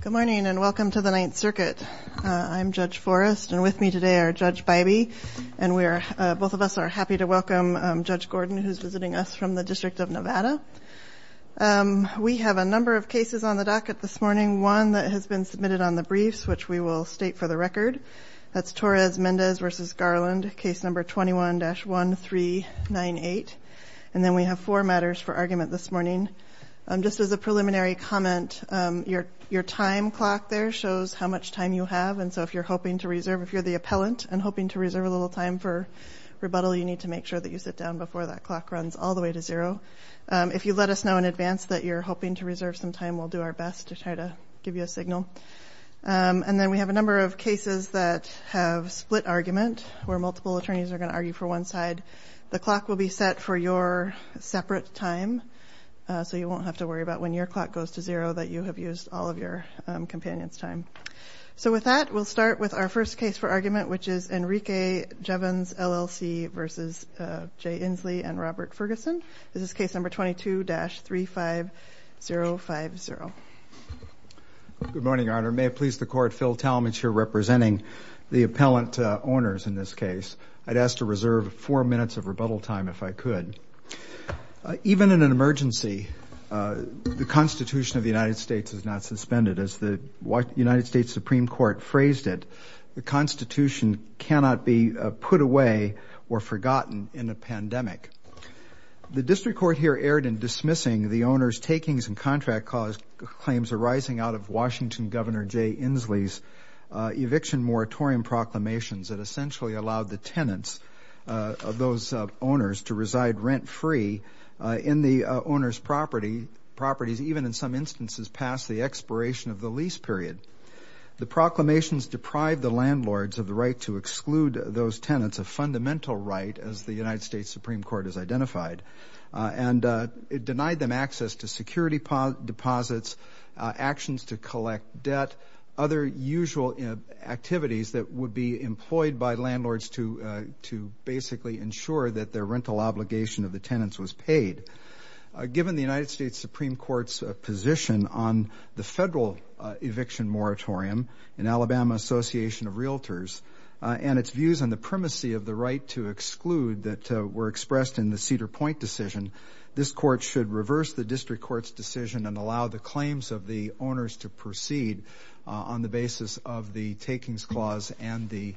Good morning, and welcome to the Ninth Circuit. I'm Judge Forrest, and with me today are Judge Bybee, and both of us are happy to welcome Judge Gordon, who's visiting us from the District of Nevada. We have a number of cases on the docket this morning. One that has been submitted on the briefs, which we will state for the record. That's Torres-Mendez v. Garland, case number 21-1398. And then we have four matters for argument this morning. Just as a preliminary comment, your time clock there shows how much time you have, and so if you're the appellant and hoping to reserve a little time for rebuttal, you need to make sure that you sit down before that clock runs all the way to zero. If you let us know in advance that you're hoping to reserve some time, we'll do our best to try to give you a signal. And then we have a number of cases that have split argument, where multiple attorneys are going to argue for one side. The clock will be set for your separate time, so you won't have to worry about when your clock goes to zero that you have used all of your companion's time. So with that, we'll start with our first case for argument, which is Enrique Jevons, LLC v. Jay Inslee and Robert Ferguson. This is case number 22-35050. Good morning, Your Honor. May it please the Court, Phil Talmadge here representing the appellant owners in this case. I'd ask to reserve four minutes of rebuttal time if I could. Even in an emergency, the Constitution of the United States is not suspended. As the United States Supreme Court phrased it, the Constitution cannot be put away or forgotten in a pandemic. The district court here erred in dismissing the owner's takings and contract claims arising out of Washington Governor Jay Inslee's eviction moratorium proclamations that essentially allowed the tenants of those owners to reside rent-free in the owner's property, properties even in some instances past the expiration of the lease period. The proclamations deprived the landlords of the right to exclude those tenants, a fundamental right as the United States Supreme Court has identified. And it denied them access to security deposits, actions to collect debt, other usual activities that would be employed by landlords to basically ensure that their rental obligation of the tenants was paid. Given the United States Supreme Court's position on the federal eviction moratorium and Alabama Association of Realtors and its views on the primacy of the right to exclude that were the district court's decision and allow the claims of the owners to proceed on the basis of the takings clause and the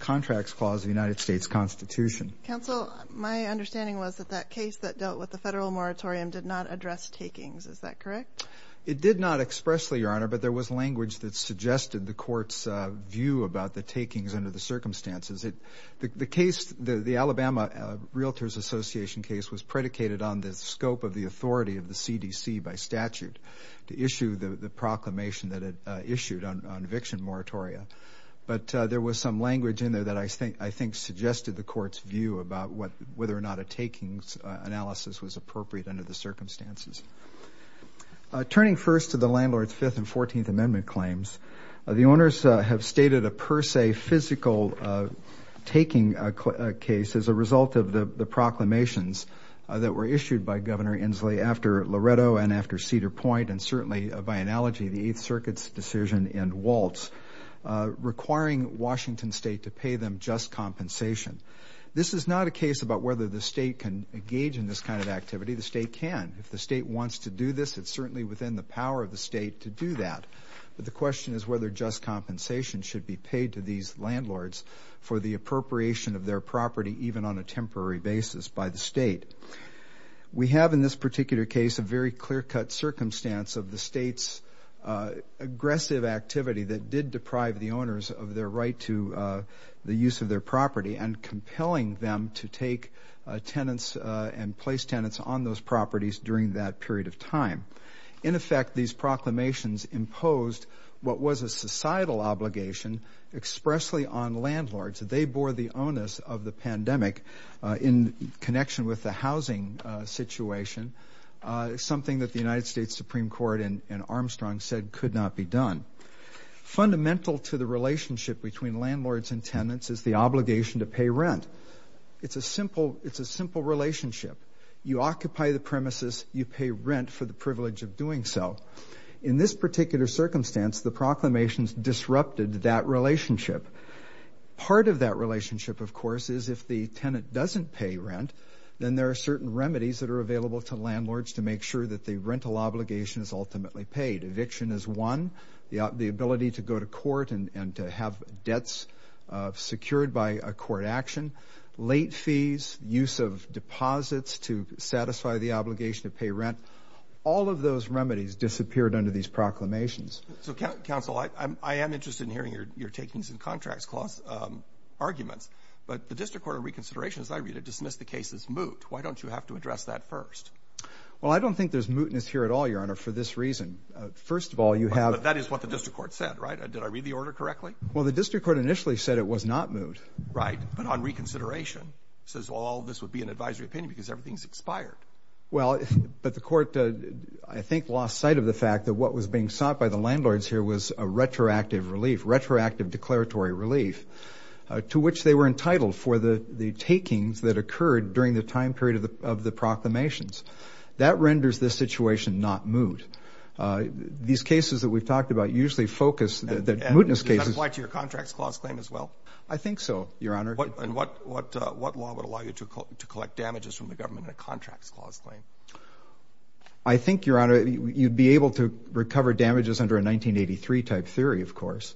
contracts clause of the United States Constitution. Counsel, my understanding was that that case that dealt with the federal moratorium did not address takings. Is that correct? It did not expressly, Your Honor, but there was language that suggested the court's view about the takings under the circumstances. The Alabama Realtors Association case was predicated on the scope of the authority of the CDC by statute to issue the proclamation that it issued on eviction moratoria. But there was some language in there that I think suggested the court's view about whether or not a takings analysis was appropriate under the circumstances. Turning first to the landlord's Fifth and Fourteenth Amendment claims, the owners have stated a per se physical taking case as a result of the proclamations that were issued by Governor Inslee after Loretto and after Cedar Point, and certainly by analogy, the Eighth Circuit's decision in Waltz, requiring Washington State to pay them just compensation. This is not a case about whether the state can engage in this kind of activity. The state can. If the state wants to do this, it's certainly within the power of the state to do that. But the question is whether just compensation should be paid to these landlords for the appropriation of their property, even on a temporary basis by the state. We have in this particular case a very clear-cut circumstance of the state's aggressive activity that did deprive the owners of their right to the use of their property and compelling them to take tenants and place tenants on those properties during that period of time. In effect, these proclamations imposed what was a societal obligation expressly on landlords. They bore the onus of the pandemic in connection with the housing situation, something that the United States Supreme Court and Armstrong said could not be done. Fundamental to the relationship between landlords and tenants is the obligation to pay rent. It's a simple relationship. You occupy the premises, you pay rent for the privilege of doing so. In this particular circumstance, the proclamations disrupted that relationship. Part of that relationship, of course, is if the tenant doesn't pay rent, then there are certain remedies that are available to landlords to make sure that the rental obligation is ultimately paid. Eviction is one. The ability to go to court and to have debts secured by a court action. Late fees, use of deposits to satisfy the obligation to pay rent. All of those remedies disappeared under these proclamations. So counsel, I am interested in hearing your takings and contracts clause arguments, but the District Court of Reconsideration, as I read it, dismissed the case as moot. Why don't you have to address that first? Well, I don't think there's mootness here at all, Your Honor, for this reason. First of all, you have... That is what the District Court said, right? Did I read the order correctly? Well, the District Court initially said it was not moot. Right. But on reconsideration, it says all this would be an advisory opinion because everything's expired. Well, but the court, I think, lost sight of the fact that what was being sought by the landlords here was a retroactive relief, retroactive declaratory relief, to which they were entitled for the takings that occurred during the time period of the proclamations. That renders this situation not moot. These cases that we've talked about usually focus the mootness cases... Does that apply to your contracts clause claim as well? I think so, Your Honor. And what law would allow you to collect damages from the government in a contracts clause I think, Your Honor, you'd be able to recover damages under a 1983-type theory, of course.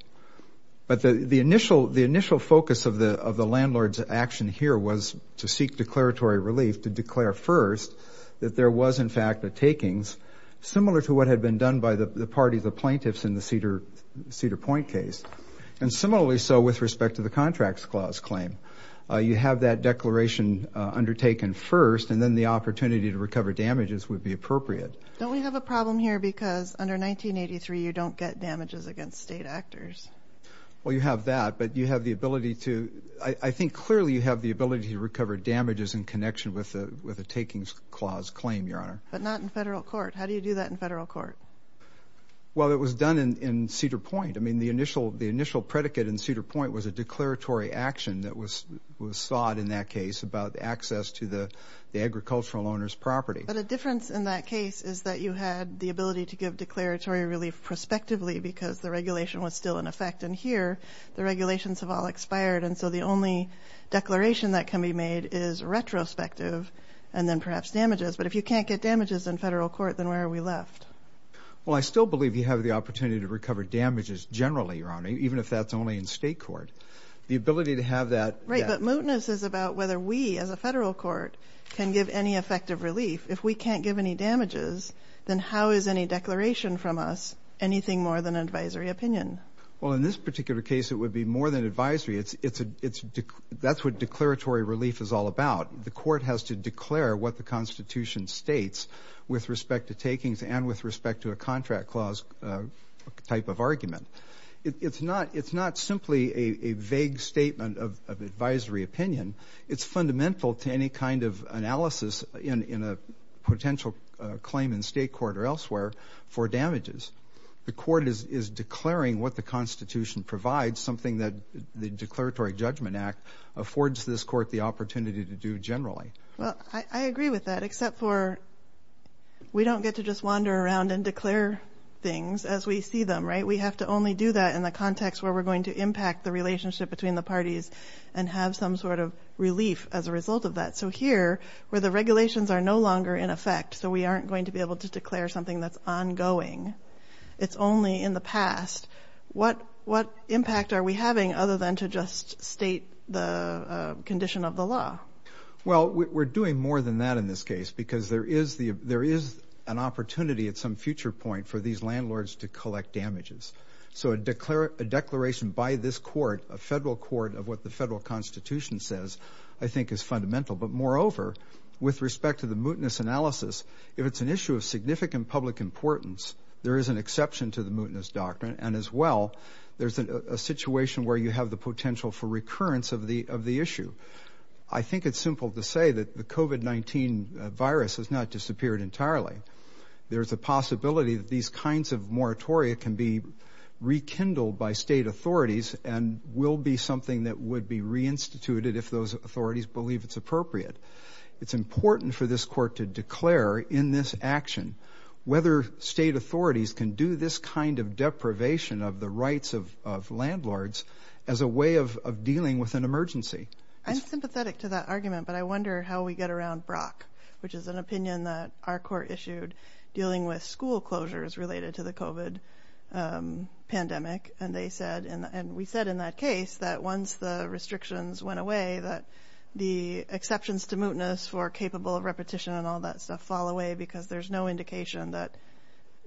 But the initial focus of the landlord's action here was to seek declaratory relief, to declare first that there was, in fact, the takings, similar to what had been done by the parties of plaintiffs in the Cedar Point case. And similarly so with respect to the contracts clause claim. You have that declaration undertaken first, and then the opportunity to recover damages would be appropriate. Don't we have a problem here because under 1983 you don't get damages against state actors? Well, you have that, but you have the ability to... I think clearly you have the ability to recover damages in connection with the takings clause claim, Your Honor. But not in federal court. How do you do that in federal court? Well, it was done in Cedar Point. The initial predicate in Cedar Point was a declaratory action that was sought in that case about access to the agricultural owner's property. But a difference in that case is that you had the ability to give declaratory relief prospectively because the regulation was still in effect. And here, the regulations have all expired. And so the only declaration that can be made is retrospective, and then perhaps damages. But if you can't get damages in federal court, then where are we left? Well, I still believe you have the opportunity to recover damages generally, Your Honor, even if that's only in state court. The ability to have that... Right, but mootness is about whether we, as a federal court, can give any effective relief. If we can't give any damages, then how is any declaration from us anything more than advisory opinion? Well, in this particular case, it would be more than advisory. That's what declaratory relief is all about. The court has to declare what the Constitution states with respect to takings and with respect to a contract clause type of argument. It's not simply a vague statement of advisory opinion. It's fundamental to any kind of analysis in a potential claim in state court or elsewhere for damages. The court is declaring what the Constitution provides, something that the Declaratory Judgment Act affords this court the opportunity to do generally. Well, I agree with that, except for we don't get to just wander around and declare things as we see them, right? We have to only do that in the context where we're going to impact the relationship between the parties and have some sort of relief as a result of that. So here, where the regulations are no longer in effect, so we aren't going to be able to declare something that's ongoing, it's only in the past, what impact are we having other than to just state the condition of the law? Well, we're doing more than that in this case, because there is an opportunity at some future point for these landlords to collect damages. So a declaration by this court, a federal court, of what the federal Constitution says, I think is fundamental. But moreover, with respect to the mootness analysis, if it's an issue of significant public importance, there is an exception to the mootness doctrine. And as well, there's a situation where you have the potential for recurrence of the issue. I think it's simple to say that the COVID-19 virus has not disappeared entirely. There's a possibility that these kinds of moratoria can be rekindled by state authorities and will be something that would be reinstituted if those authorities believe it's appropriate. It's important for this court to declare in this action whether state authorities can do this kind of deprivation of the rights of landlords as a way of dealing with an emergency. I'm sympathetic to that argument, but I wonder how we get around Brock, which is an opinion that our court issued dealing with school closures related to the COVID pandemic. And they said, and we said in that case, that once the restrictions went away, that the exceptions to mootness for capable of repetition and all that stuff fall away because there's no indication that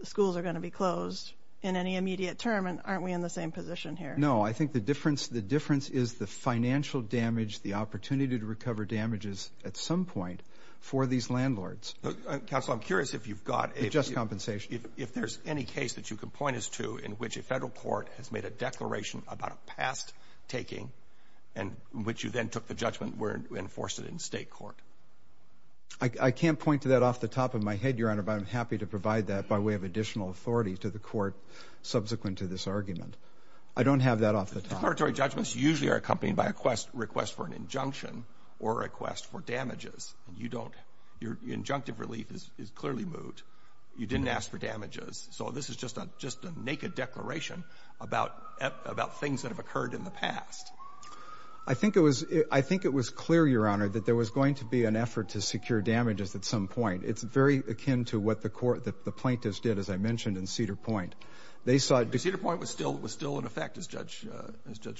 schools are going to be closed in any immediate term. And aren't we in the same position here? I think the difference is the financial damage, the opportunity to recover damages at some point for these landlords. Counselor, I'm curious if you've got a... Adjust compensation. If there's any case that you can point us to in which a federal court has made a declaration about a past taking and which you then took the judgment were enforced in state court. I can't point to that off the top of my head, Your Honor, but I'm happy to provide that by way of additional authority to the court subsequent to this argument. I don't have that off the top. Declaratory judgments usually are accompanied by a request for an injunction or request for damages. Your injunctive relief is clearly moot. You didn't ask for damages. So this is just a naked declaration about things that have occurred in the past. I think it was clear, Your Honor, that there was going to be an effort to secure damages at some point. It's very akin to what the plaintiffs did, as I mentioned, in Cedar Point. Cedar Point was still in effect, as Judge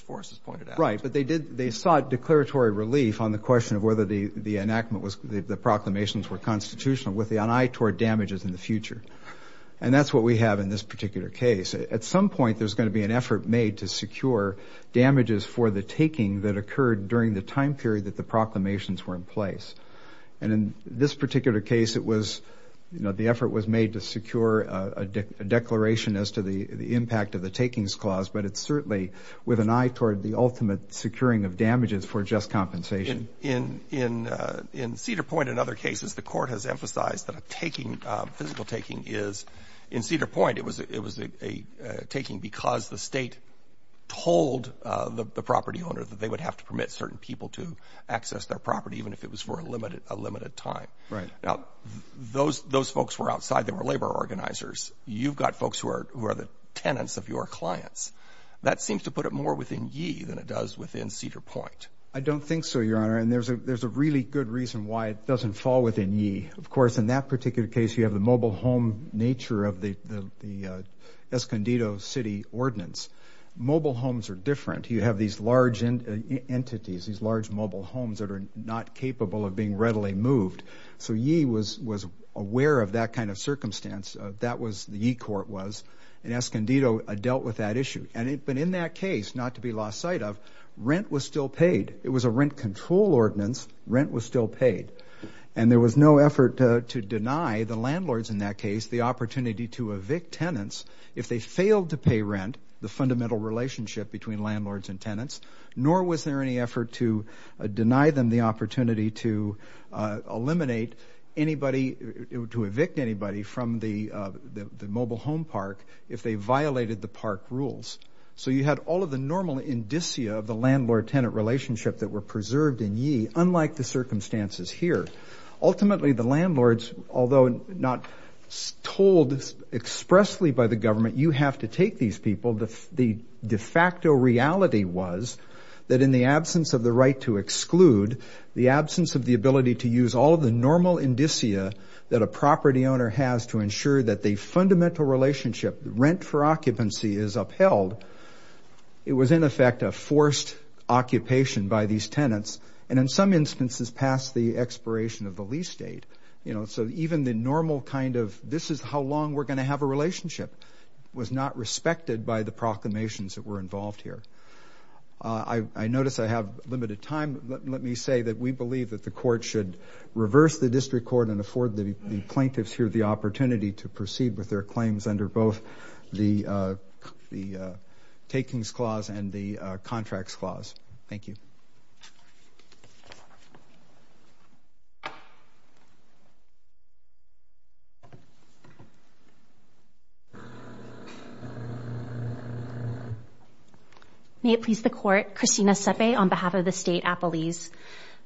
Forrest has pointed out. Right. But they sought declaratory relief on the question of whether the proclamations were constitutional with an eye toward damages in the future. And that's what we have in this particular case. At some point, there's going to be an effort made to secure damages for the taking that occurred during the time period that the proclamations were in place. And in this particular case, it was, you know, the effort was made to secure a declaration as to the impact of the takings clause. But it's certainly with an eye toward the ultimate securing of damages for just compensation. In Cedar Point and other cases, the Court has emphasized that a taking, physical taking is, in Cedar Point, it was a taking because the state told the property owner that they would have to permit certain people to access their property, even if it was for a limited time. Right. Now, those folks were outside. They were labor organizers. You've got folks who are the tenants of your clients. That seems to put it more within ye than it does within Cedar Point. I don't think so, Your Honor. And there's a really good reason why it doesn't fall within ye. Of course, in that particular case, you have the mobile home nature of the Escondido City Ordinance. Mobile homes are different. You have these large entities, these large mobile homes that are not capable of being readily moved. So ye was aware of that kind of circumstance. That was, the ye court was. And Escondido dealt with that issue. And in that case, not to be lost sight of, rent was still paid. It was a rent control ordinance. Rent was still paid. And there was no effort to deny the landlords in that case the opportunity to evict tenants if they failed to pay rent, the fundamental relationship between landlords and tenants, nor was there any effort to deny them the opportunity to eliminate anybody, to evict anybody from the mobile home park if they violated the park rules. So you had all of the normal indicia of the landlord-tenant relationship that were preserved in ye, unlike the circumstances here. Ultimately, the landlords, although not told expressly by the government, you have to take these people, the de facto reality was that in the absence of the right to exclude, the absence of the ability to use all of the normal indicia that a property owner has to ensure that the fundamental relationship, rent for occupancy, is upheld, it was in effect a forced occupation by these tenants. And in some instances, past the expiration of the lease date. So even the normal kind of, this is how long we're going to have a relationship, was not respected by the proclamations that were involved here. I notice I have limited time, but let me say that we believe that the court should reverse the district court and afford the plaintiffs here the opportunity to proceed with their claims under both the takings clause and the contracts clause. Thank you. Thank you. May it please the court, Christina Sepe on behalf of the state Appalese.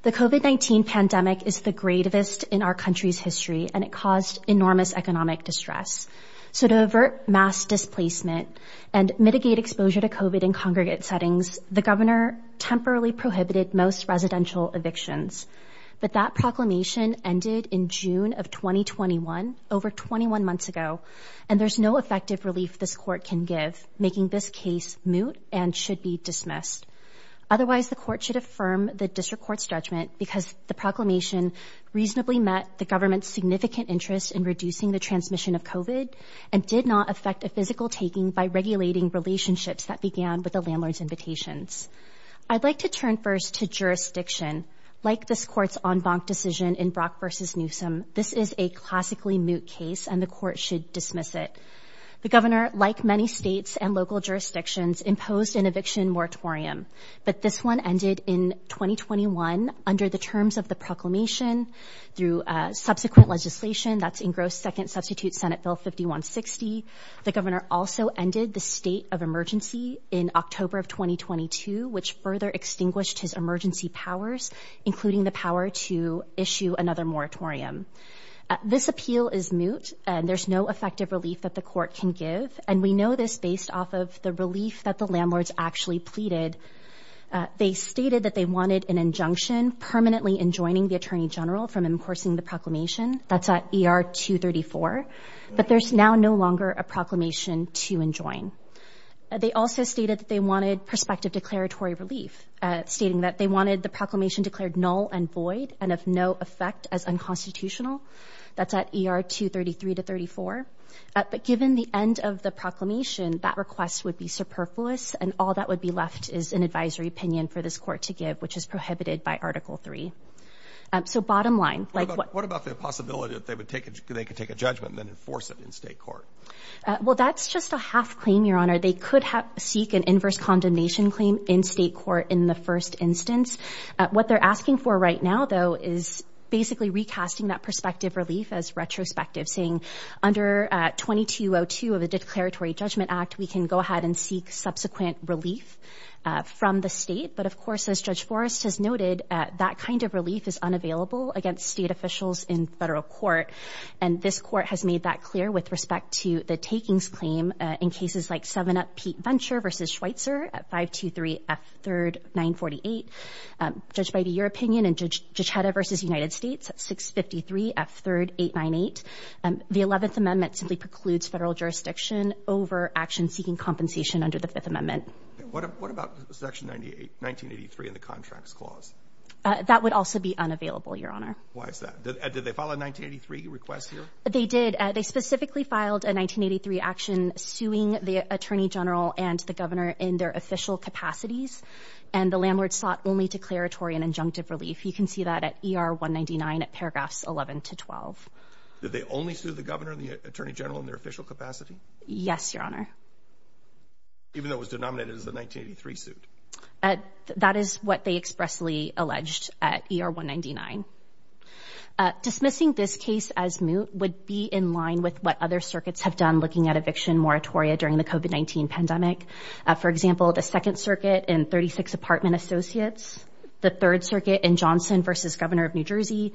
The COVID-19 pandemic is the greatest in our country's history and it caused enormous economic distress. So to avert mass displacement and mitigate exposure to COVID in congregate settings, the governor temporarily prohibited most residential evictions. But that proclamation ended in June of 2021, over 21 months ago, and there's no effective relief this court can give, making this case moot and should be dismissed. Otherwise, the court should affirm the district court's judgment because the proclamation reasonably met the government's significant interest in reducing the transmission of COVID and did not affect a physical taking by regulating relationships that began with landlords' invitations. I'd like to turn first to jurisdiction. Like this court's en banc decision in Brock v. Newsom, this is a classically moot case and the court should dismiss it. The governor, like many states and local jurisdictions, imposed an eviction moratorium, but this one ended in 2021 under the terms of the proclamation through subsequent legislation that's engrossed second substitute Senate Bill 5160. The governor also ended the state of emergency in October of 2022, which further extinguished his emergency powers, including the power to issue another moratorium. This appeal is moot and there's no effective relief that the court can give, and we know this based off of the relief that the landlords actually pleaded. They stated that they wanted an injunction permanently enjoining the attorney general from enforcing the proclamation. That's at ER 234, but there's now no longer a proclamation to enjoin. They also stated that they wanted prospective declaratory relief, stating that they wanted the proclamation declared null and void and of no effect as unconstitutional. That's at ER 233 to 34, but given the end of the proclamation, that request would be superfluous and all that would be left is an advisory opinion for this court to give, which is prohibited by Article 3. So bottom line, what about the possibility that they could take a judgment and then enforce it in state court? Well, that's just a half claim, Your Honor. They could seek an inverse condemnation claim in state court in the first instance. What they're asking for right now, though, is basically recasting that prospective relief as retrospective, saying under 2202 of the Declaratory Judgment Act, we can go ahead and seek subsequent relief from the state. But of course, as Judge Forrest has noted, that kind of relief is unavailable against state officials in federal court. And this court has made that clear with respect to the takings claim in cases like 7-Up Pete Venture v. Schweitzer at 523 F. 3rd 948, judged by your opinion in Judge Giacetta v. United States at 653 F. 3rd 898. The 11th Amendment simply precludes federal jurisdiction over action seeking compensation under the Fifth Amendment. What about Section 1983 in the Contracts Clause? That would also be unavailable, Your Honor. Why is that? Did they file a 1983 request here? They did. They specifically filed a 1983 action suing the Attorney General and the Governor in their official capacities. And the landlord sought only declaratory and injunctive relief. You can see that at ER 199 at paragraphs 11 to 12. Did they only sue the Governor and the Attorney General in their official capacity? Yes, Your Honor. Even though it was denominated as the 1983 suit? That is what they expressly alleged at ER 199. Dismissing this case as moot would be in line with what other circuits have done looking at eviction moratoria during the COVID-19 pandemic. For example, the Second Circuit in 36 Apartment Associates, the Third Circuit in Johnson v. Governor of New Jersey,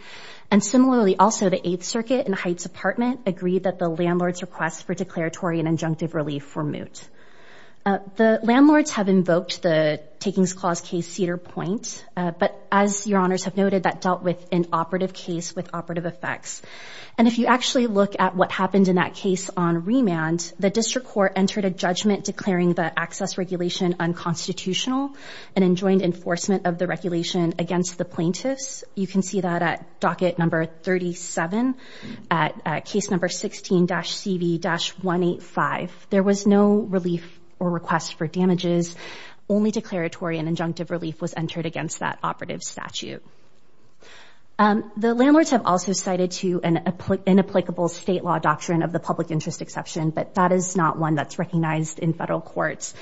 and similarly also the Eighth Circuit in Heights Apartment agreed that the landlord's request for declaratory and injunctive relief were moot. The landlords have invoked the Takings Clause Case Cedar Point, but as Your Honors have noted, that dealt with an operative case with operative effects. And if you actually look at what happened in that case on remand, the District Court entered a judgment declaring the access regulation unconstitutional and enjoined enforcement of the regulation against the plaintiffs. You can see that at docket number 37, at case number 16-CV-185. There was no relief or request for damages. Only declaratory and injunctive relief was entered against that operative statute. The landlords have also cited to an inapplicable state law doctrine of the public interest exception, but that is not one that's recognized in federal courts.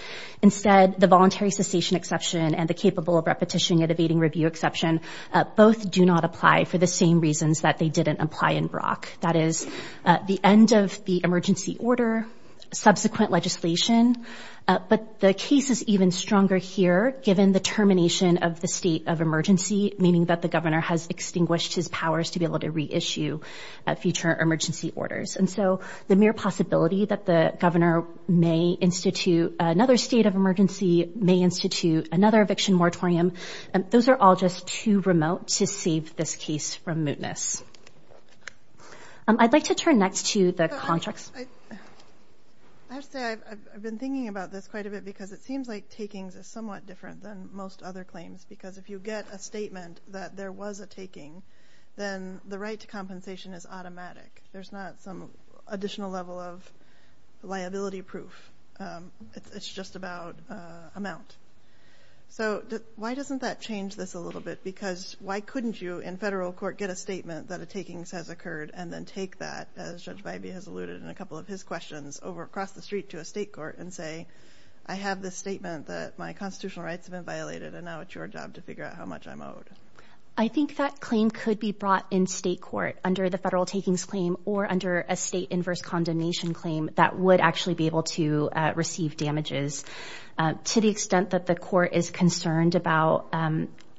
Instead, the voluntary cessation exception and the capable of repetition at evading review exception both do not apply for the same reasons that they didn't apply in Brock. That is the end of the emergency order, subsequent legislation, but the case is even stronger here given the termination of the state of emergency, meaning that the governor has extinguished his powers to be able to reissue future emergency orders. And so the mere possibility that the governor may institute another state of emergency, may institute another eviction moratorium, those are all just too remote to save this case from mootness. I'd like to turn next to the contracts. I have to say I've been thinking about this quite a bit because it seems like takings are somewhat different than most other claims because if you get a statement that there was a taking, then the right to compensation is automatic. There's not some additional level of liability proof. It's just about amount. So why doesn't that change this a little bit? Because why couldn't you, in federal court, get a statement that a takings has occurred and then take that, as Judge Bybee has alluded in a couple of his questions over across the street to a state court and say, I have this statement that my constitutional rights have been violated and now it's your job to figure out how much I'm owed. I think that claim could be brought in state court under the federal takings claim or under a state inverse condemnation claim that would actually be able to receive damages. To the extent that the court is concerned about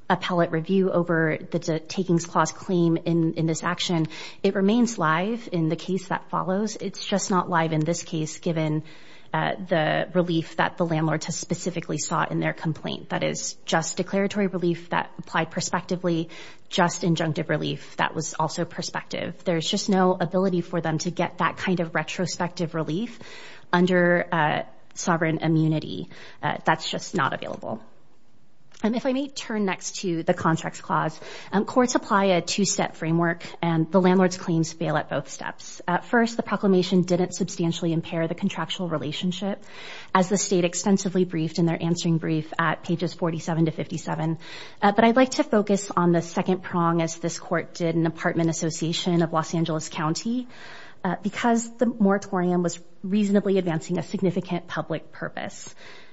appellate review over the takings clause claim in this action, it remains live in the case that follows. It's just not live in this case given the relief that the landlord has specifically sought in their complaint. That is just declaratory relief that applied prospectively, just injunctive relief that was also prospective. There's just no ability for them to get that kind of retrospective relief under sovereign immunity. That's just not available. If I may turn next to the contracts clause, courts apply a two-step framework and the landlord's claims fail at both steps. At first, the proclamation didn't substantially impair the contractual relationship as the state extensively briefed in their answering brief at pages 47 to 57. But I'd like to focus on the second prong as this court did an apartment association of Los Angeles County because the moratorium was reasonably advancing a significant public purpose.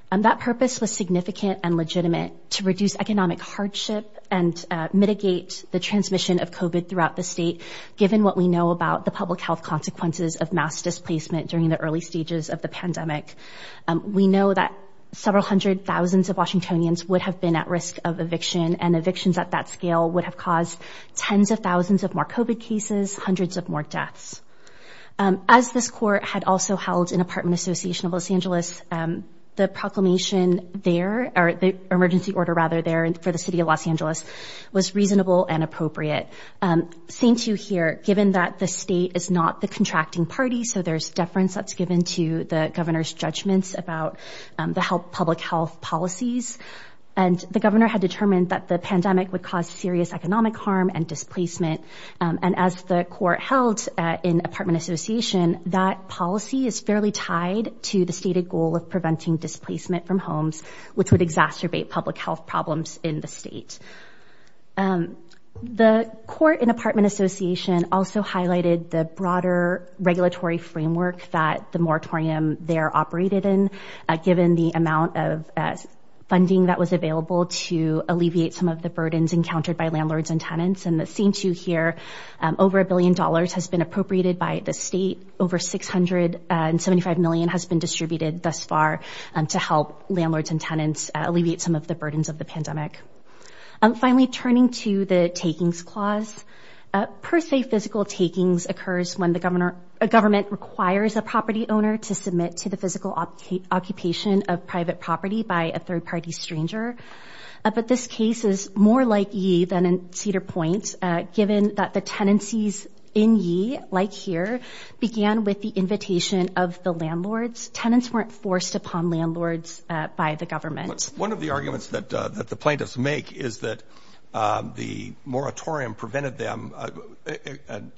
That purpose was significant and legitimate to reduce economic hardship and mitigate the transmission of COVID throughout the state given what we know about the public health consequences of mass displacement during the early stages of the pandemic. We know that several hundred thousands of Washingtonians would have been at risk of eviction and evictions at that scale would have caused tens of thousands of more COVID cases, hundreds of more deaths. As this court had also held an apartment association of Los Angeles, the proclamation there or the emergency order rather there for the city of Los Angeles was reasonable and appropriate. Same two here, given that the state is not the contracting party, so there's deference that's given to the governor's judgments about the help public health policies and the governor had determined that the pandemic would cause serious economic harm and displacement. And as the court held in apartment association, that policy is fairly tied to the stated goal of preventing displacement from homes, which would exacerbate public health problems in the state. And the court in apartment association also highlighted the broader regulatory framework that the moratorium there operated in, given the amount of funding that was available to alleviate some of the burdens encountered by landlords and tenants. And the same two here, over a billion dollars has been appropriated by the state. Over 675 million has been distributed thus far to help landlords and tenants alleviate some of the burdens of the pandemic. Finally, turning to the takings clause. Per se, physical takings occurs when the governor, a government requires a property owner to submit to the physical occupation of private property by a third party stranger. But this case is more likely than in Cedar Point, given that the tenancies in Yee, like here, began with the invitation of the landlords. Tenants weren't forced upon landlords by the government. One of the arguments that the plaintiffs make is that the moratorium prevented them and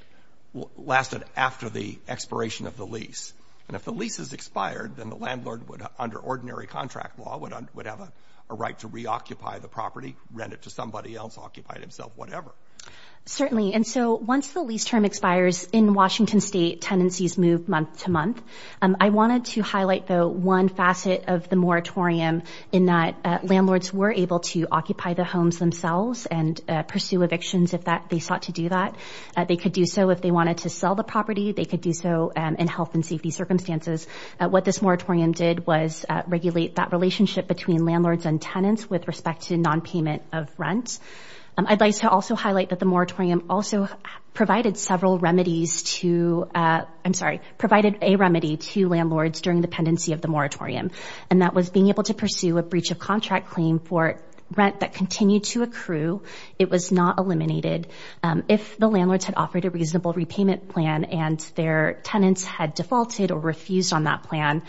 lasted after the expiration of the lease. And if the lease is expired, then the landlord would, under ordinary contract law, would have a right to reoccupy the property, rent it to somebody else, occupy it himself, whatever. Certainly. And so once the lease term expires in Washington state, tenancies move month to month. I wanted to highlight, though, one facet of the moratorium in that landlords were able to occupy the homes themselves and pursue evictions if they sought to do that. They could do so if they wanted to sell the property. They could do so in health and safety circumstances. What this moratorium did was regulate that relationship between landlords and tenants with respect to nonpayment of rent. I'd like to also highlight that the moratorium also provided several remedies to, I'm sorry, provided a remedy to landlords during the pendency of the moratorium. And that was being able to pursue a breach of contract claim for rent that continued to accrue. It was not eliminated. If the landlords had offered a reasonable repayment plan and their tenants had defaulted or refused on that plan,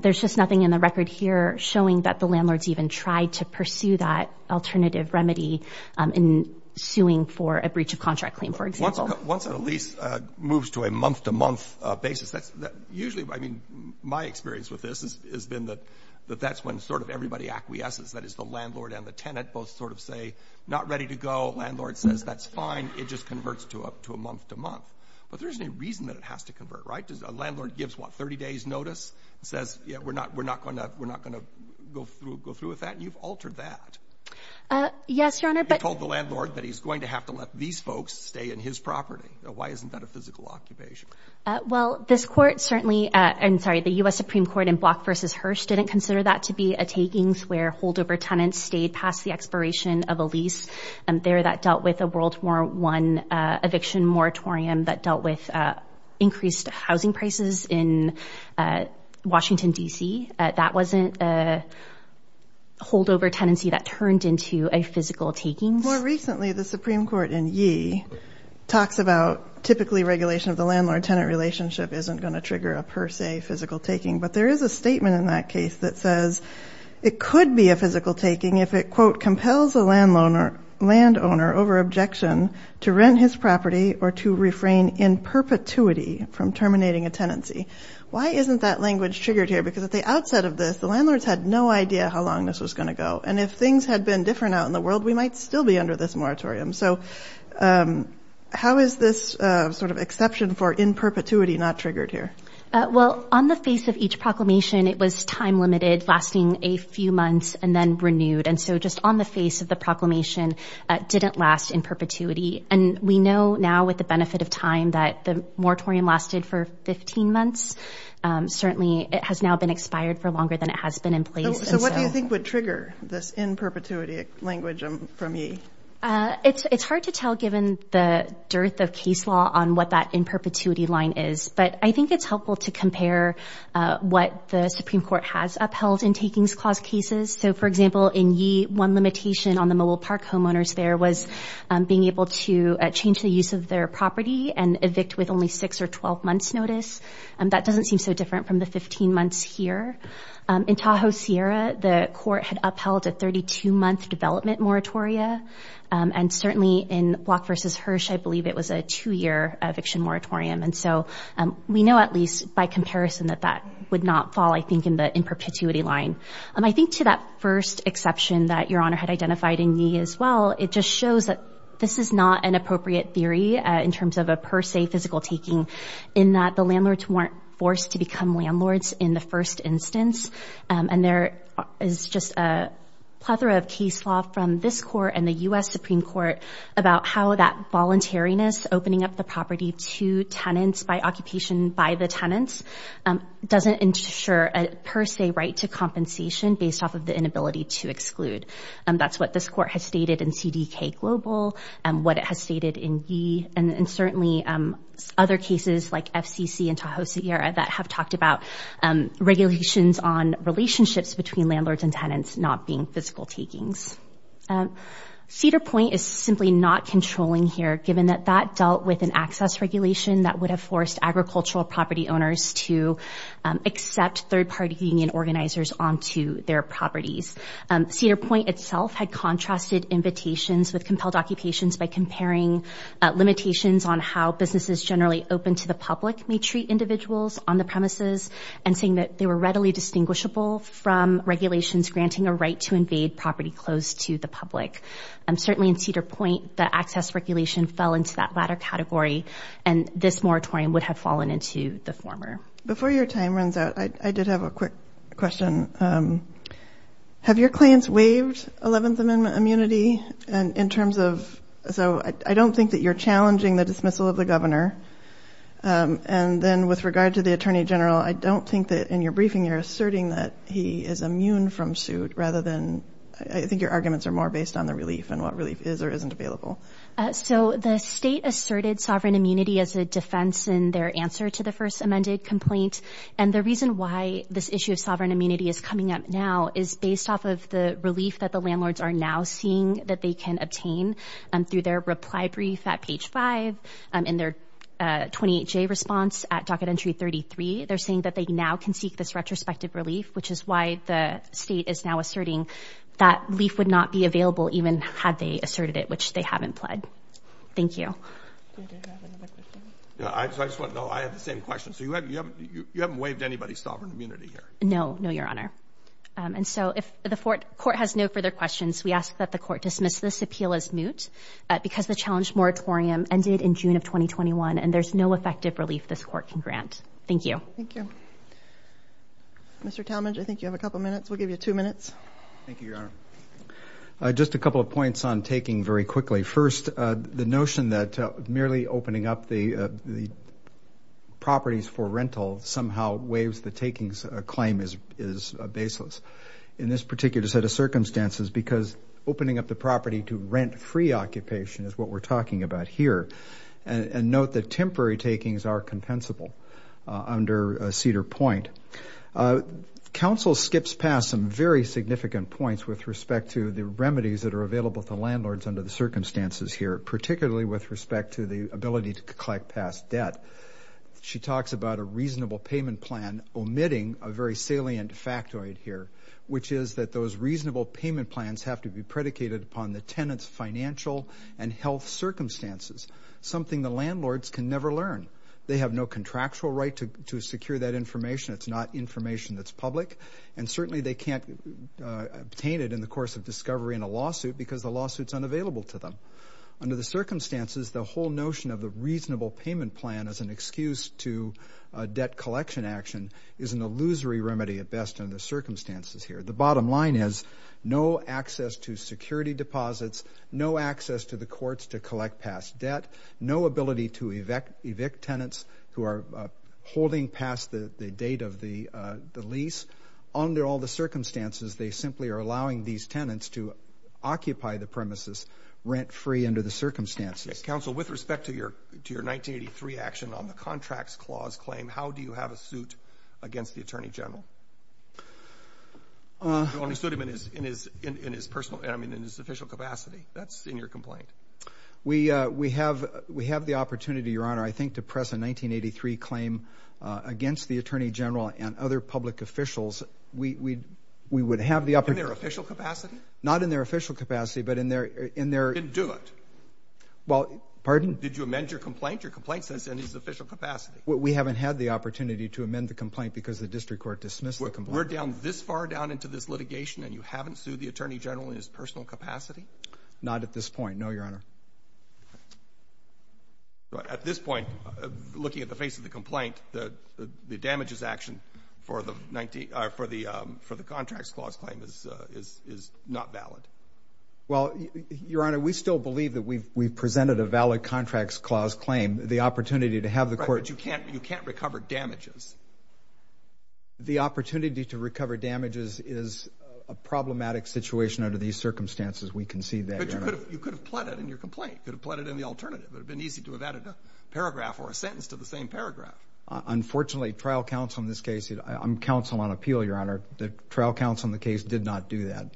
there's just nothing in the record here showing that the landlords even tried to pursue that alternative remedy in suing for a breach of contract claim, for example. Once a lease moves to a month-to-month basis, usually, I mean, my experience with this has been that that's when sort of everybody acquiesces. That is, the landlord and the tenant both sort of say, not ready to go. Landlord says, that's fine. It just converts to a month-to-month. But there's no reason that it has to convert, right? A landlord gives, what, 30 days' notice and says, yeah, we're not going to go through with that. You've altered that. Yes, Your Honor. He told the landlord that he's going to have to let these folks stay in his property. Why isn't that a physical occupation? Well, this court certainly, I'm sorry, the U.S. Supreme Court in Block v. Hirsch didn't consider that to be a takings where holdover tenants stayed past the expiration of a lease there that dealt with a World War I eviction moratorium that dealt with increased housing prices in Washington, D.C. That wasn't a holdover tenancy that turned into a physical takings. More recently, the Supreme Court in Yee talks about typically regulation of the landlord-tenant relationship isn't going to trigger a per se physical taking. But there is a statement in that case that says it could be a physical taking if it, quote, compels a landowner over objection to rent his property or to refrain in perpetuity from terminating a tenancy. Why isn't that language triggered here? Because at the outset of this, the landlords had no idea how long this was going to go. And if things had been different out in the world, we might still be under this moratorium. So how is this sort of exception for in perpetuity not triggered here? Well, on the face of each proclamation, it was time limited, lasting a few months and then renewed. And so just on the face of the proclamation, it didn't last in perpetuity. And we know now with the benefit of time that the moratorium lasted for 15 months. Certainly, it has now been expired for longer than it has been in place. So what do you think would trigger this in perpetuity language from Yee? It's hard to tell given the dearth of case law on what that in perpetuity line is. But I think it's helpful to compare what the Supreme Court has upheld in takings clause cases. So, for example, in Yee, one limitation on the Mobile Park homeowners there was being to change the use of their property and evict with only six or 12 months notice. And that doesn't seem so different from the 15 months here. In Tahoe Sierra, the court had upheld a 32-month development moratoria. And certainly in Block v. Hirsch, I believe it was a two-year eviction moratorium. And so we know at least by comparison that that would not fall, I think, in the in perpetuity line. I think to that first exception that Your Honor had identified in Yee as well, it just shows that this is not an appropriate theory in terms of a per se physical taking in that the landlords weren't forced to become landlords in the first instance. And there is just a plethora of case law from this court and the U.S. Supreme Court about how that voluntariness opening up the property to tenants by occupation by the tenants doesn't ensure a per se right to compensation based off of the inability to exclude. That's what this court has stated in CDK Global, what it has stated in Yee, and certainly other cases like FCC and Tahoe Sierra that have talked about regulations on relationships between landlords and tenants not being physical takings. Cedar Point is simply not controlling here, given that that dealt with an access regulation that would have forced agricultural property owners to accept third-party union organizers onto their properties. Cedar Point itself had contrasted invitations with compelled occupations by comparing limitations on how businesses generally open to the public may treat individuals on the premises and saying that they were readily distinguishable from regulations granting a right to invade property close to the public. Certainly in Cedar Point, the access regulation fell into that latter category and this moratorium would have fallen into the former. Before your time runs out, I did have a quick question. Have your claims waived 11th Amendment immunity in terms of, so I don't think that you're challenging the dismissal of the governor, and then with regard to the Attorney General, I don't think that in your briefing you're asserting that he is immune from suit rather than, I think your arguments are more based on the relief and what relief is or isn't available. So the state asserted sovereign immunity as a defense in their answer to the first amendment complaint, and the reason why this issue of sovereign immunity is coming up now is based off of the relief that the landlords are now seeing that they can obtain through their reply brief at page 5 and their 28J response at docket entry 33. They're saying that they now can seek this retrospective relief, which is why the state is now asserting that relief would not be available even had they asserted it, which they haven't pled. Thank you. Do you have another question? Yeah, I just want to know. I have the same question. So you haven't waived anybody's sovereign immunity here? No, no, Your Honor. And so if the court has no further questions, we ask that the court dismiss this appeal as moot because the challenge moratorium ended in June of 2021, and there's no effective relief this court can grant. Thank you. Thank you. Mr. Talmadge, I think you have a couple minutes. We'll give you two minutes. Thank you, Your Honor. Just a couple of points on taking very quickly. First, the notion that merely opening up the properties for rental somehow waives the takings claim is baseless in this particular set of circumstances because opening up the property to rent-free occupation is what we're talking about here. And note that temporary takings are compensable under Cedar Point. Counsel skips past some very significant points with respect to the remedies that are available to landlords under the circumstances here, particularly with respect to the ability to collect past debt. She talks about a reasonable payment plan omitting a very salient factoid here, which is that those reasonable payment plans have to be predicated upon the tenant's financial and health circumstances, something the landlords can never learn. They have no contractual right to secure that information. It's not information that's public. And certainly they can't obtain it in the course of discovery in a lawsuit because the lawsuit's unavailable to them. Under the circumstances, the whole notion of the reasonable payment plan as an excuse to debt collection action is an illusory remedy at best under the circumstances here. The bottom line is no access to security deposits, no access to the courts to collect past debt, no ability to evict tenants who are holding past the date of the lease. Under all the circumstances, they simply are allowing these tenants to occupy the premises rent-free under the circumstances. Counsel, with respect to your 1983 action on the Contracts Clause claim, how do you have a suit against the Attorney General? You only sued him in his personal, I mean, in his official capacity. That's in your complaint. We have the opportunity, Your Honor, I think, to press a 1983 claim against the Attorney General and other public officials. We would have the opportunity- In their official capacity? Not in their official capacity, but in their- Didn't do it. Well, pardon? Did you amend your complaint? Your complaint says in his official capacity. We haven't had the opportunity to amend the complaint because the District Court dismissed the complaint. We're down this far down into this litigation and you haven't sued the Attorney General in his personal capacity? Not at this point, no, Your Honor. Okay. At this point, looking at the face of the complaint, the damages action for the 19- or for the Contracts Clause claim is not valid. Well, Your Honor, we still believe that we've presented a valid Contracts Clause claim. The opportunity to have the court- Right, but you can't recover damages. The opportunity to recover damages is a problematic situation under these circumstances. We concede that, Your Honor. You could have pled it in your complaint. You could have pled it in the alternative. It would have been easy to have added a paragraph or a sentence to the same paragraph. Unfortunately, trial counsel in this case- I'm counsel on appeal, Your Honor. The trial counsel in the case did not do that.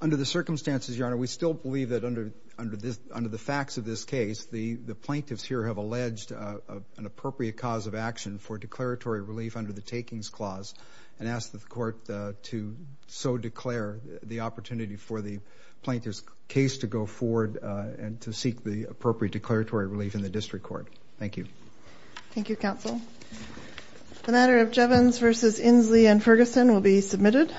Under the circumstances, Your Honor, we still believe that under the facts of this case, the plaintiffs here have alleged an appropriate cause of action for declaratory relief under the Takings Clause and ask the court to so declare the opportunity for the plaintiff's case to go forward and to seek the appropriate declaratory relief in the district court. Thank you. Thank you, counsel. The matter of Jevons v. Inslee v. Ferguson will be submitted.